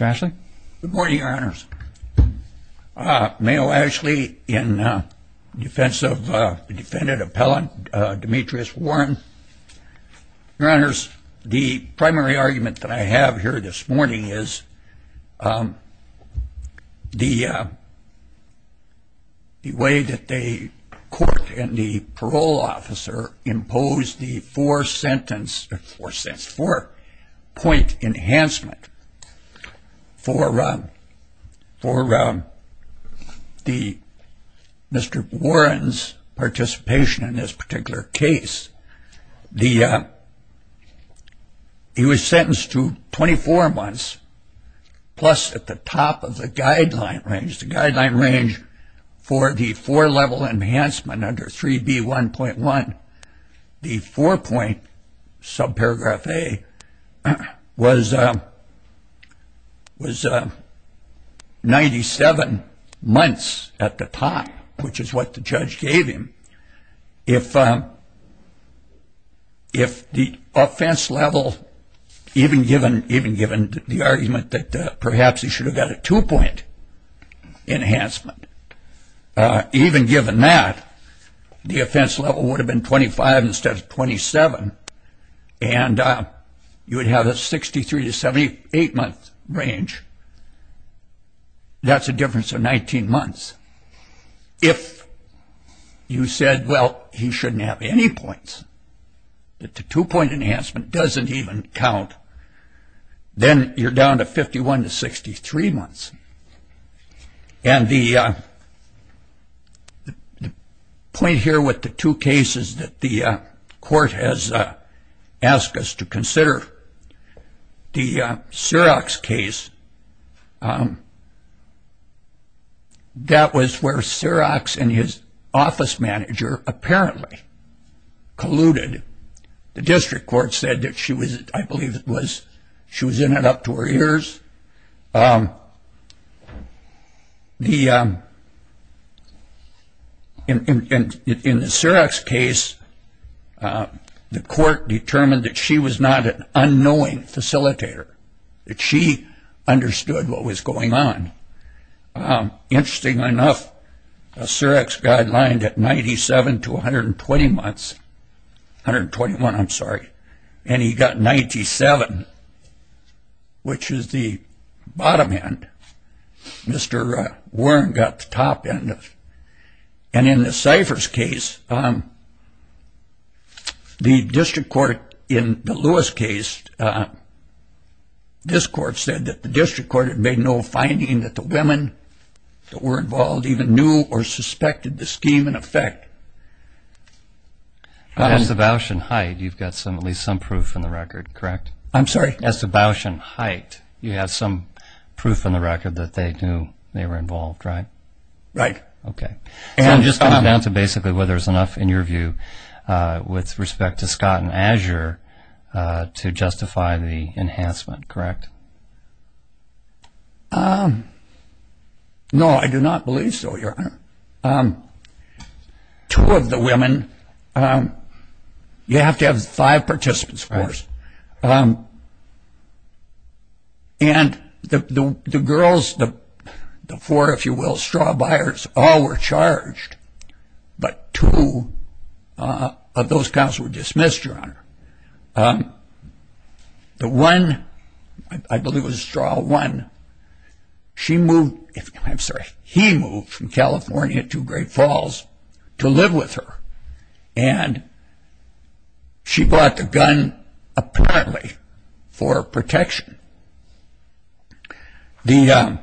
Good morning, your honors. Mayo Ashley in defense of defendant appellant Demetrius Warren. Your honors, the primary argument that I have here this morning is the way that the court and the parole officer imposed the four sentence for point enhancement for Mr. Warren's participation in this particular case. He was sentenced to 24 months plus at the top of the guideline range, which is the guideline range for the four level enhancement under 3B1.1. The four point subparagraph A was 97 months at the top, which is what the judge gave him. If the offense level, even given the argument that perhaps he should have got a two point enhancement, even given that the offense level would have been 25 instead of 27 and you would have a 63 to 78 month range, that's a difference of 19 months. If you said, well, he shouldn't have any points, that the two point enhancement doesn't even count, then you're down to 51 to 63 months. And the point here with the two cases that the court has asked us to consider, the Syrox case, that was where Syrox and his office manager apparently colluded. The district court said that she was, I believe it was, she was in it up to her ears. In the Syrox case, the court determined that she was not an unknowing facilitator, that she understood what was going on. Interesting enough, a Syrox guideline at 97 to 120 months, 121, I'm sorry. And he got 97, which is the bottom end. Mr. Warren got the top end of it. And in the Cyphers case, the district court in the Lewis case, this court said that the district court had made no finding that the women that were involved even knew or suspected the scheme in effect. As to Bausch and Haidt, you've got at least some proof in the record, correct? I'm sorry? As to Bausch and Haidt, you have some proof in the record that they knew they were involved, right? Right. Okay. So it just comes down to basically whether there's enough, in your view, with respect to Scott and Azure to justify the enhancement, correct? No, I do not believe so, Your Honor. Two of the women, you have to have five participants, of course. And the girls, the four, if you will, straw buyers, all were charged. But two of those counts were dismissed, Your Honor. The one, I believe it was straw one, she moved, I'm sorry, he moved from California to Great Falls to live with her. And she brought the gun, apparently, for protection. The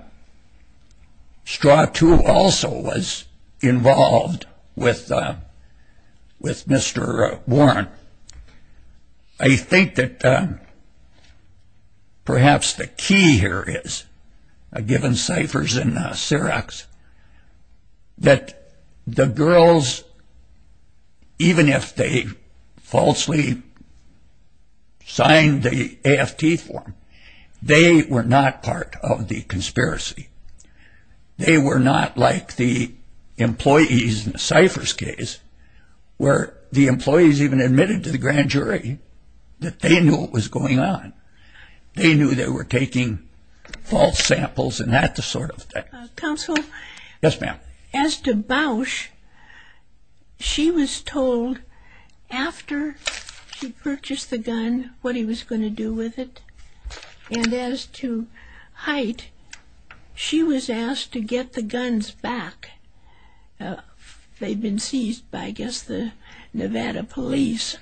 straw two also was involved with Mr. Warren. I think that perhaps the key here is, given ciphers and Syrox, that the girls, even if they falsely signed the AFT form, they were not part of the conspiracy. They were not like the employees in the ciphers case, where the employees even admitted to the grand jury that they knew what was going on. They knew they were taking false samples and that sort of thing. Counsel? Yes, ma'am. As to Bausch, she was told, after she purchased the gun, what he was going to do with it. And as to Hite, she was asked to get the guns back. They'd been seized by, I guess, the Nevada police.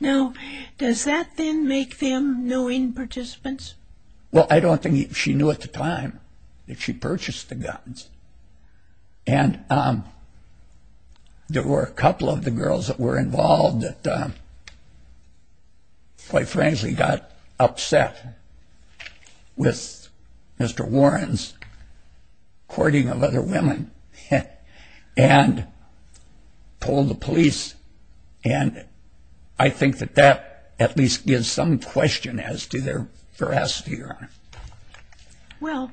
Now, does that then make them knowing participants? Well, I don't think she knew at the time that she purchased the guns. And there were a couple of the girls that were involved that, quite frankly, got upset with Mr. Warren's courting of other women and told the police. And I think that that at least gives some question as to their veracity or not. Well,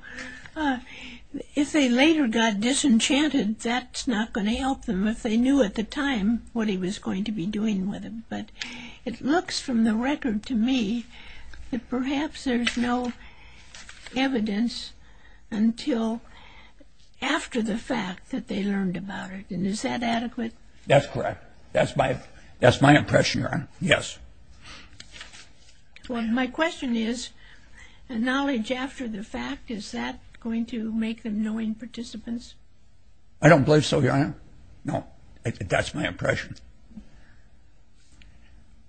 if they later got disenchanted, that's not going to help them, if they knew at the time what he was going to be doing with them. But it looks from the record to me that perhaps there's no evidence until after the fact that they learned about it. And is that adequate? That's correct. That's my impression, Your Honor. Yes. Well, my question is, knowledge after the fact, is that going to make them knowing participants? I don't believe so, Your Honor. No. That's my impression.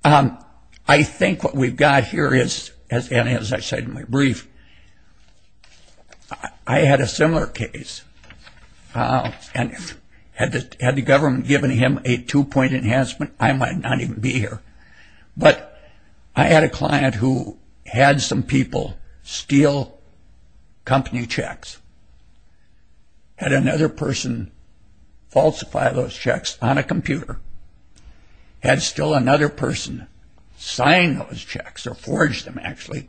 I think what we've got here is, and as I said in my brief, I had a similar case. And had the government given him a two-point enhancement, I might not even be here. But I had a client who had some people steal company checks, had another person falsify those checks on a computer, had still another person sign those checks or forge them, actually,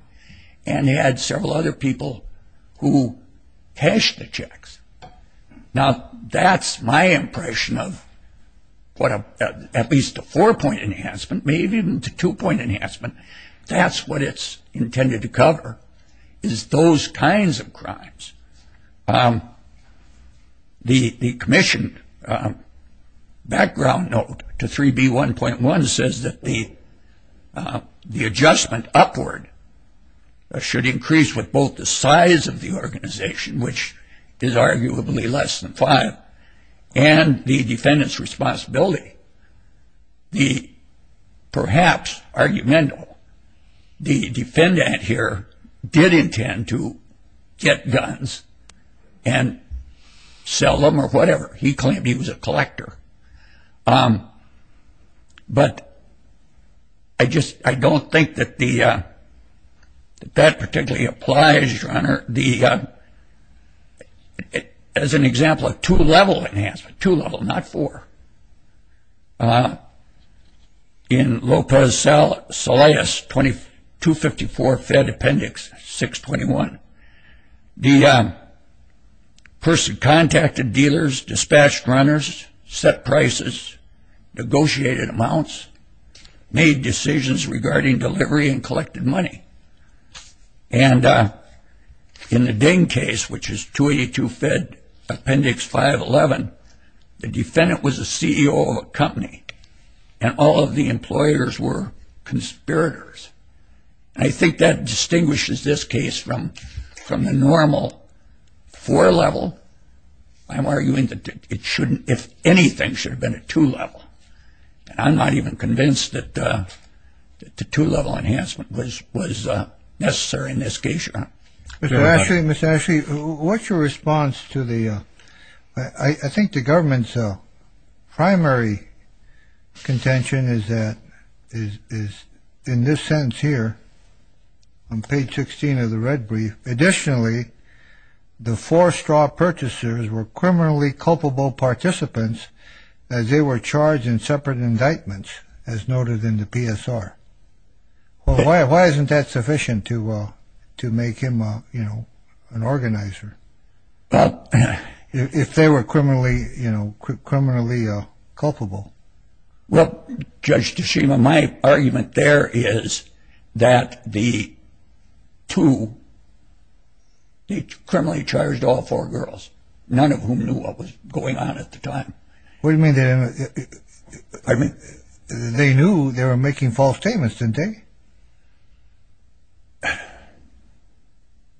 and had several other people who cashed the checks. Now, that's my impression of what at least a four-point enhancement, maybe even a two-point enhancement, that's what it's intended to cover, is those kinds of crimes. The commissioned background note to 3B1.1 says that the adjustment upward should increase with both the size of the organization, which is arguably less than five, and the defendant's responsibility. The, perhaps, argument, the defendant here did intend to get guns and sell them or whatever. He claimed he was a collector. But I don't think that that particularly applies, Your Honor. The, as an example, a two-level enhancement, two-level, not four. In Lopez-Solais 254 Fed Appendix 621, the person contacted dealers, dispatched runners, set prices, negotiated amounts, made decisions regarding delivery and collected money. And in the Ding case, which is 282 Fed Appendix 511, the defendant was a CEO of a company, and all of the employers were conspirators. I think that distinguishes this case from the normal four-level. I'm arguing that it shouldn't, if anything, should have been a two-level. I'm not even convinced that the two-level enhancement was necessary in this case, Your Honor. Mr. Ashley, Ms. Ashley, what's your response to the, I think the government's primary contention is that, in this sentence here, on page 16 of the red brief, additionally, the four straw purchasers were criminally culpable participants as they were charged in separate indictments, as noted in the PSR. Why isn't that sufficient to make him, you know, an organizer? If they were criminally, you know, criminally culpable? Well, Judge DeSima, my argument there is that the two, they criminally charged all four girls, none of whom knew what was going on at the time. What do you mean? I mean, they knew they were making false statements, didn't they?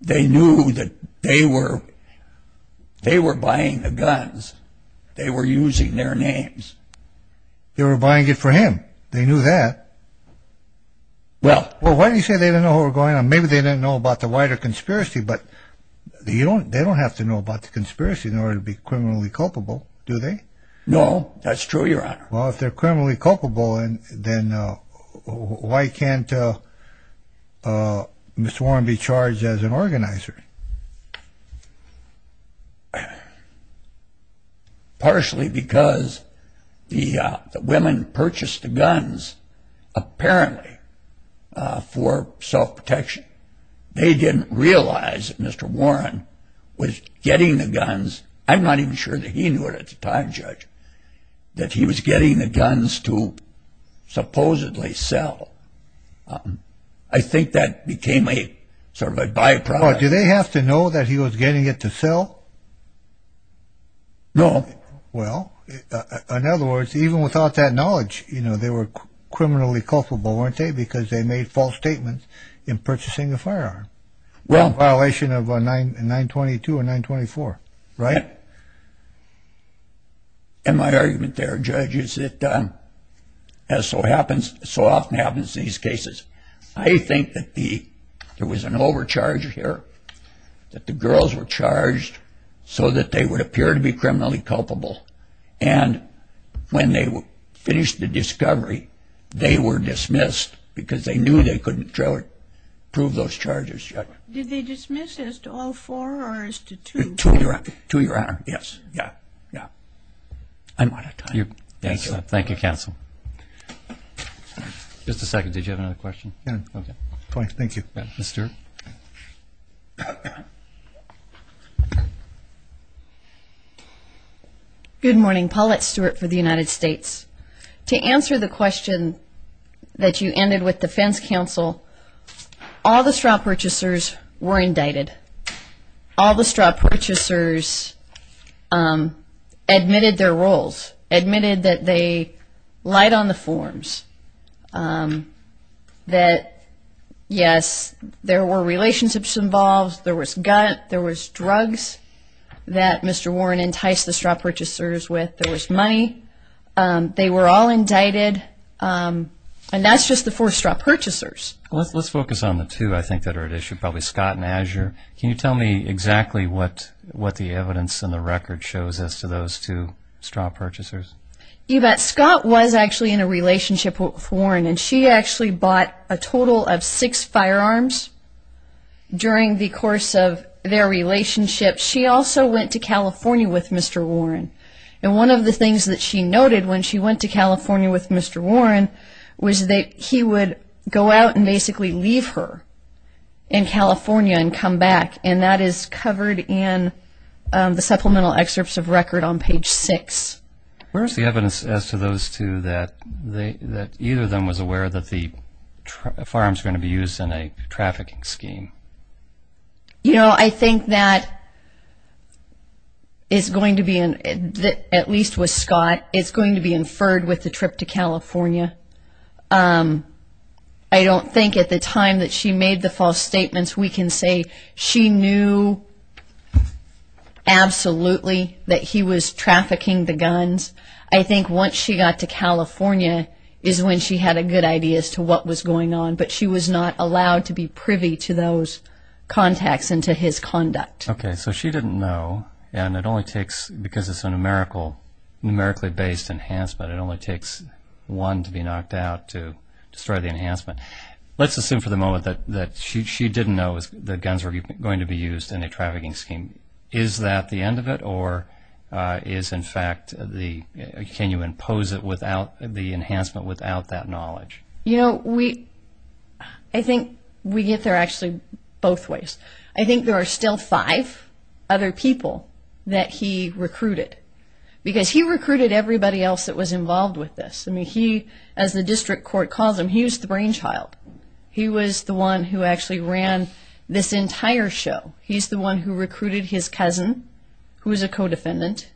They knew that they were, they were buying the guns. They were using their names. They were buying it for him. They knew that. Well. Well, why do you say they didn't know what was going on? Well, maybe they didn't know about the wider conspiracy, but they don't have to know about the conspiracy in order to be criminally culpable, do they? No, that's true, Your Honor. Well, if they're criminally culpable, then why can't Mr. Warren be charged as an organizer? Partially because the women purchased the guns, apparently, for self-protection. They didn't realize that Mr. Warren was getting the guns. I'm not even sure that he knew it at the time, Judge, that he was getting the guns to supposedly sell. I think that became a sort of a byproduct. Do they have to know that he was getting it to sell? No. Well, in other words, even without that knowledge, you know, they were criminally culpable, weren't they, because they made false statements in purchasing a firearm in violation of 922 or 924, right? And my argument there, Judge, is that as so often happens in these cases, I think that there was an overcharge here, that the girls were charged so that they would appear to be criminally culpable, and when they finished the discovery, they were dismissed because they knew they couldn't prove those charges yet. Did they dismiss as to all four or as to two? Two, Your Honor. Yes. Yeah. Yeah. Thank you, Counsel. Just a second. Did you have another question? Yeah. Thank you. Ms. Stewart. Good morning. Paulette Stewart for the United States. To answer the question that you ended with, Defense Counsel, all the straw purchasers were indicted. All the straw purchasers admitted their roles, admitted that they lied on the forms, that, yes, there were relationships involved, there was gut, there was drugs that Mr. Warren enticed the straw purchasers with, there was money. They were all indicted, and that's just the four straw purchasers. Let's focus on the two, I think, that are at issue, probably Scott and Azure. Can you tell me exactly what the evidence and the record shows as to those two straw purchasers? You bet. Scott was actually in a relationship with Warren, and she actually bought a total of six firearms during the course of their relationship. She also went to California with Mr. Warren, and one of the things that she noted when she went to California with Mr. Warren was that he would go out and basically leave her in California and come back, and that is covered in the supplemental excerpts of record on page six. Where is the evidence as to those two that either of them was aware that the firearms were going to be used in a trafficking scheme? You know, I think that is going to be, at least with Scott, it's going to be inferred with the trip to California. I don't think at the time that she made the false statements, we can say she knew absolutely that he was trafficking the guns. I think once she got to California is when she had a good idea as to what was going on, but she was not allowed to be privy to those contacts and to his conduct. Okay, so she didn't know, and it only takes, because it's a numerically-based enhancement, it only takes one to be knocked out to destroy the enhancement. Let's assume for the moment that she didn't know that guns were going to be used in a trafficking scheme. Is that the end of it, or is, in fact, can you impose the enhancement without that knowledge? You know, I think we get there actually both ways. I think there are still five other people that he recruited, because he recruited everybody else that was involved with this. I mean, he, as the district court calls him, he was the brainchild. He was the one who actually ran this entire show. He's the one who recruited his cousin, who was a co-defendant.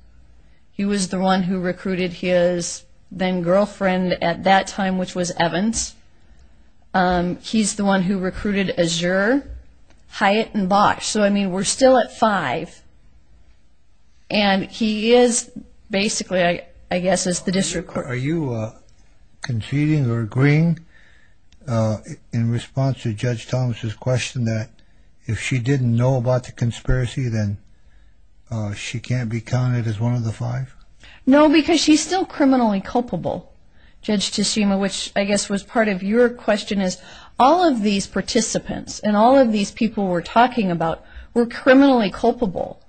He was the one who recruited his then-girlfriend at that time, which was Evans. He's the one who recruited Azure, Hyatt, and Bosch. So, I mean, we're still at five, and he is basically, I guess, as the district court. Are you conceding or agreeing in response to Judge Thomas's question that if she didn't know about the conspiracy, then she can't be counted as one of the five? No, because she's still criminally culpable, Judge Teshima, which I guess was part of your question is all of these participants and all of these people we're talking about were criminally culpable.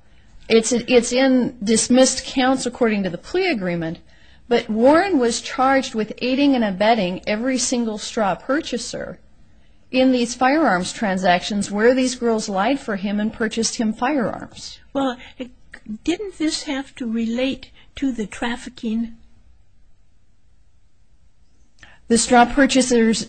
It's in dismissed counts according to the plea agreement, but Warren was charged with aiding and abetting every single straw purchaser in these firearms transactions where these girls lied for him and purchased him firearms. Well, didn't this have to relate to the trafficking? The straw purchasers'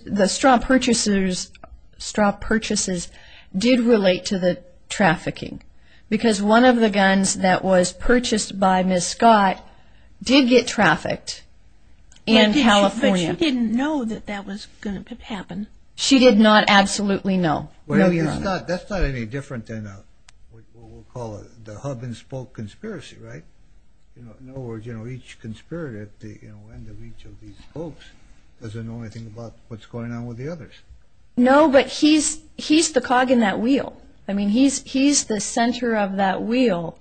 straw purchases did relate to the trafficking because one of the guns that was purchased by Ms. Scott did get trafficked in California. But she didn't know that that was going to happen? She did not absolutely know. That's not any different than what we'll call the hub and spoke conspiracy, right? In other words, each conspirator at the end of each of these spokes doesn't know anything about what's going on with the others. No, but he's the cog in that wheel. I mean, he's the center of that wheel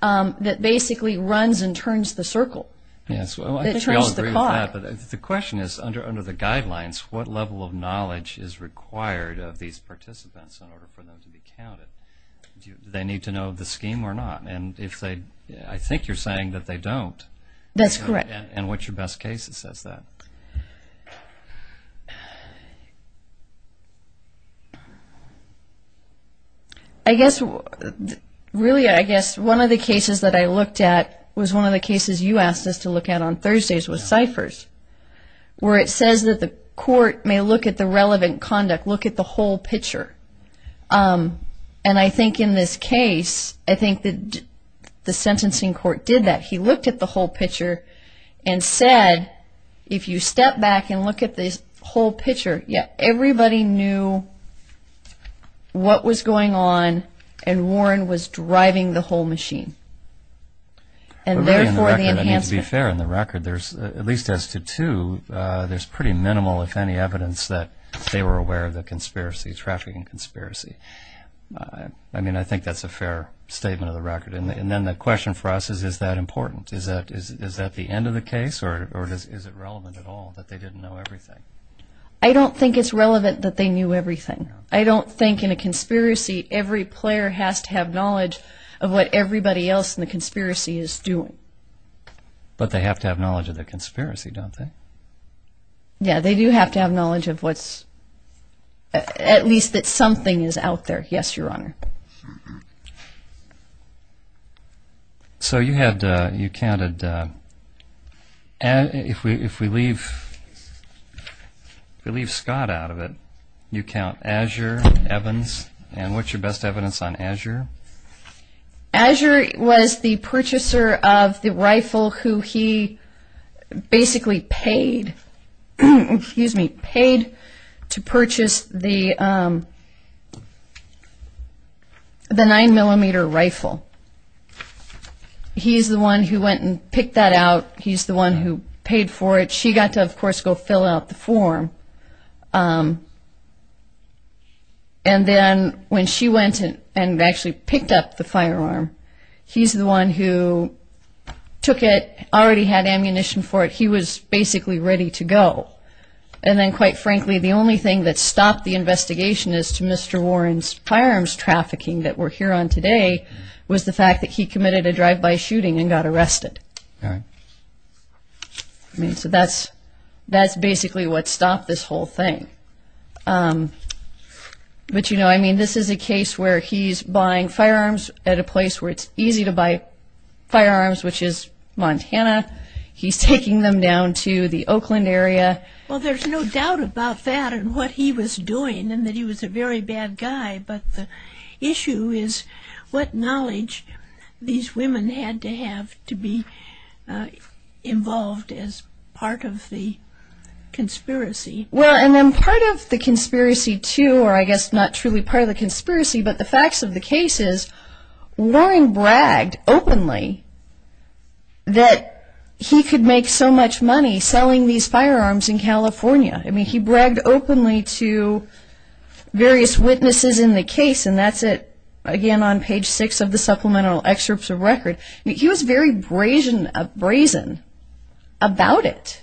that basically runs and turns the circle. Yes, well, I think we all agree with that, but the question is, under the guidelines, what level of knowledge is required of these participants in order for them to be counted? Do they need to know the scheme or not? I think you're saying that they don't. That's correct. And what's your best case that says that? Really, I guess one of the cases that I looked at was one of the cases you asked us to look at on Thursdays with ciphers, where it says that the court may look at the relevant conduct, look at the whole picture. And I think in this case, I think the sentencing court did that. He looked at the whole picture and said, if you step back and look at this whole picture, everybody knew what was going on and Warren was driving the whole machine. I mean, to be fair, in the record, at least as to two, there's pretty minimal, if any, evidence that they were aware of the conspiracy, trafficking conspiracy. I mean, I think that's a fair statement of the record. And then the question for us is, is that important? Is that the end of the case, or is it relevant at all that they didn't know everything? I don't think it's relevant that they knew everything. I don't think in a conspiracy, every player has to have knowledge of what everybody else in the conspiracy is doing. But they have to have knowledge of the conspiracy, don't they? Yeah, they do have to have knowledge of what's, at least that something is out there. Yes, Your Honor. So you had, you counted, if we leave Scott out of it, you count Azure, Evans, and what's your best evidence on Azure? Azure was the purchaser of the rifle who he basically paid, excuse me, paid to purchase the 9mm rifle. He's the one who went and picked that out. He's the one who paid for it. She got to, of course, go fill out the form. And then when she went and actually picked up the firearm, he's the one who took it, already had ammunition for it. He was basically ready to go. And then, quite frankly, the only thing that stopped the investigation as to Mr. Warren's firearms trafficking that we're here on today was the fact that he committed a drive-by shooting and got arrested. So that's basically what stopped this whole thing. But, you know, I mean, this is a case where he's buying firearms at a place where it's easy to buy firearms, which is Montana. He's taking them down to the Oakland area. Well, there's no doubt about that and what he was doing and that he was a very bad guy. But the issue is what knowledge these women had to have to be involved as part of the conspiracy. Well, and then part of the conspiracy, too, or I guess not truly part of the conspiracy, but the facts of the case is Warren bragged openly that he could make so much money selling these firearms in California. I mean, he bragged openly to various witnesses in the case, and that's it, again, on page 6 of the supplemental excerpts of record. He was very brazen about it.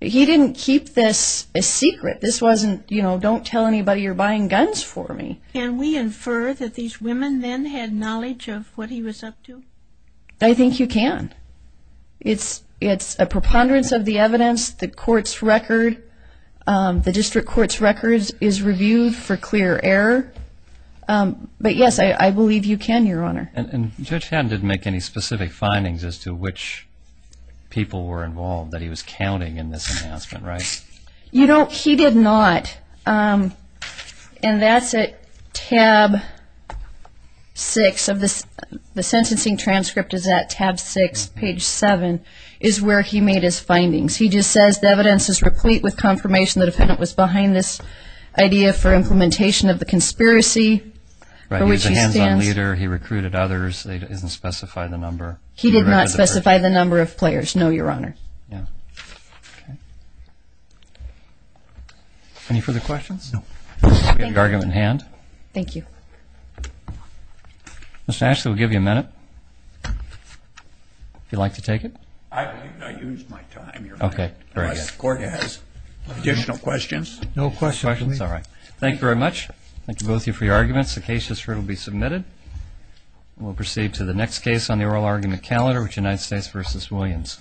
He didn't keep this a secret. This wasn't, you know, don't tell anybody you're buying guns for me. Can we infer that these women then had knowledge of what he was up to? I think you can. It's a preponderance of the evidence. The court's record, the district court's record is reviewed for clear error. But, yes, I believe you can, Your Honor. And Judge Haddon didn't make any specific findings as to which people were involved that he was counting in this announcement, right? You know, he did not, and that's at tab 6. The sentencing transcript is at tab 6, page 7, is where he made his findings. He just says, The evidence is replete with confirmation the defendant was behind this idea for implementation of the conspiracy for which he stands. He was a hands-on leader. He recruited others. It doesn't specify the number. He did not specify the number of players, no, Your Honor. Any further questions? Is the argument in hand? Thank you. Mr. Ashley, we'll give you a minute if you'd like to take it. I've used my time, Your Honor. Okay, very good. Unless the court has additional questions. No questions. All right. Thank you very much. Thank you, both of you, for your arguments. The case has now been submitted. We'll proceed to the next case on the oral argument calendar, which is United States v. Williams.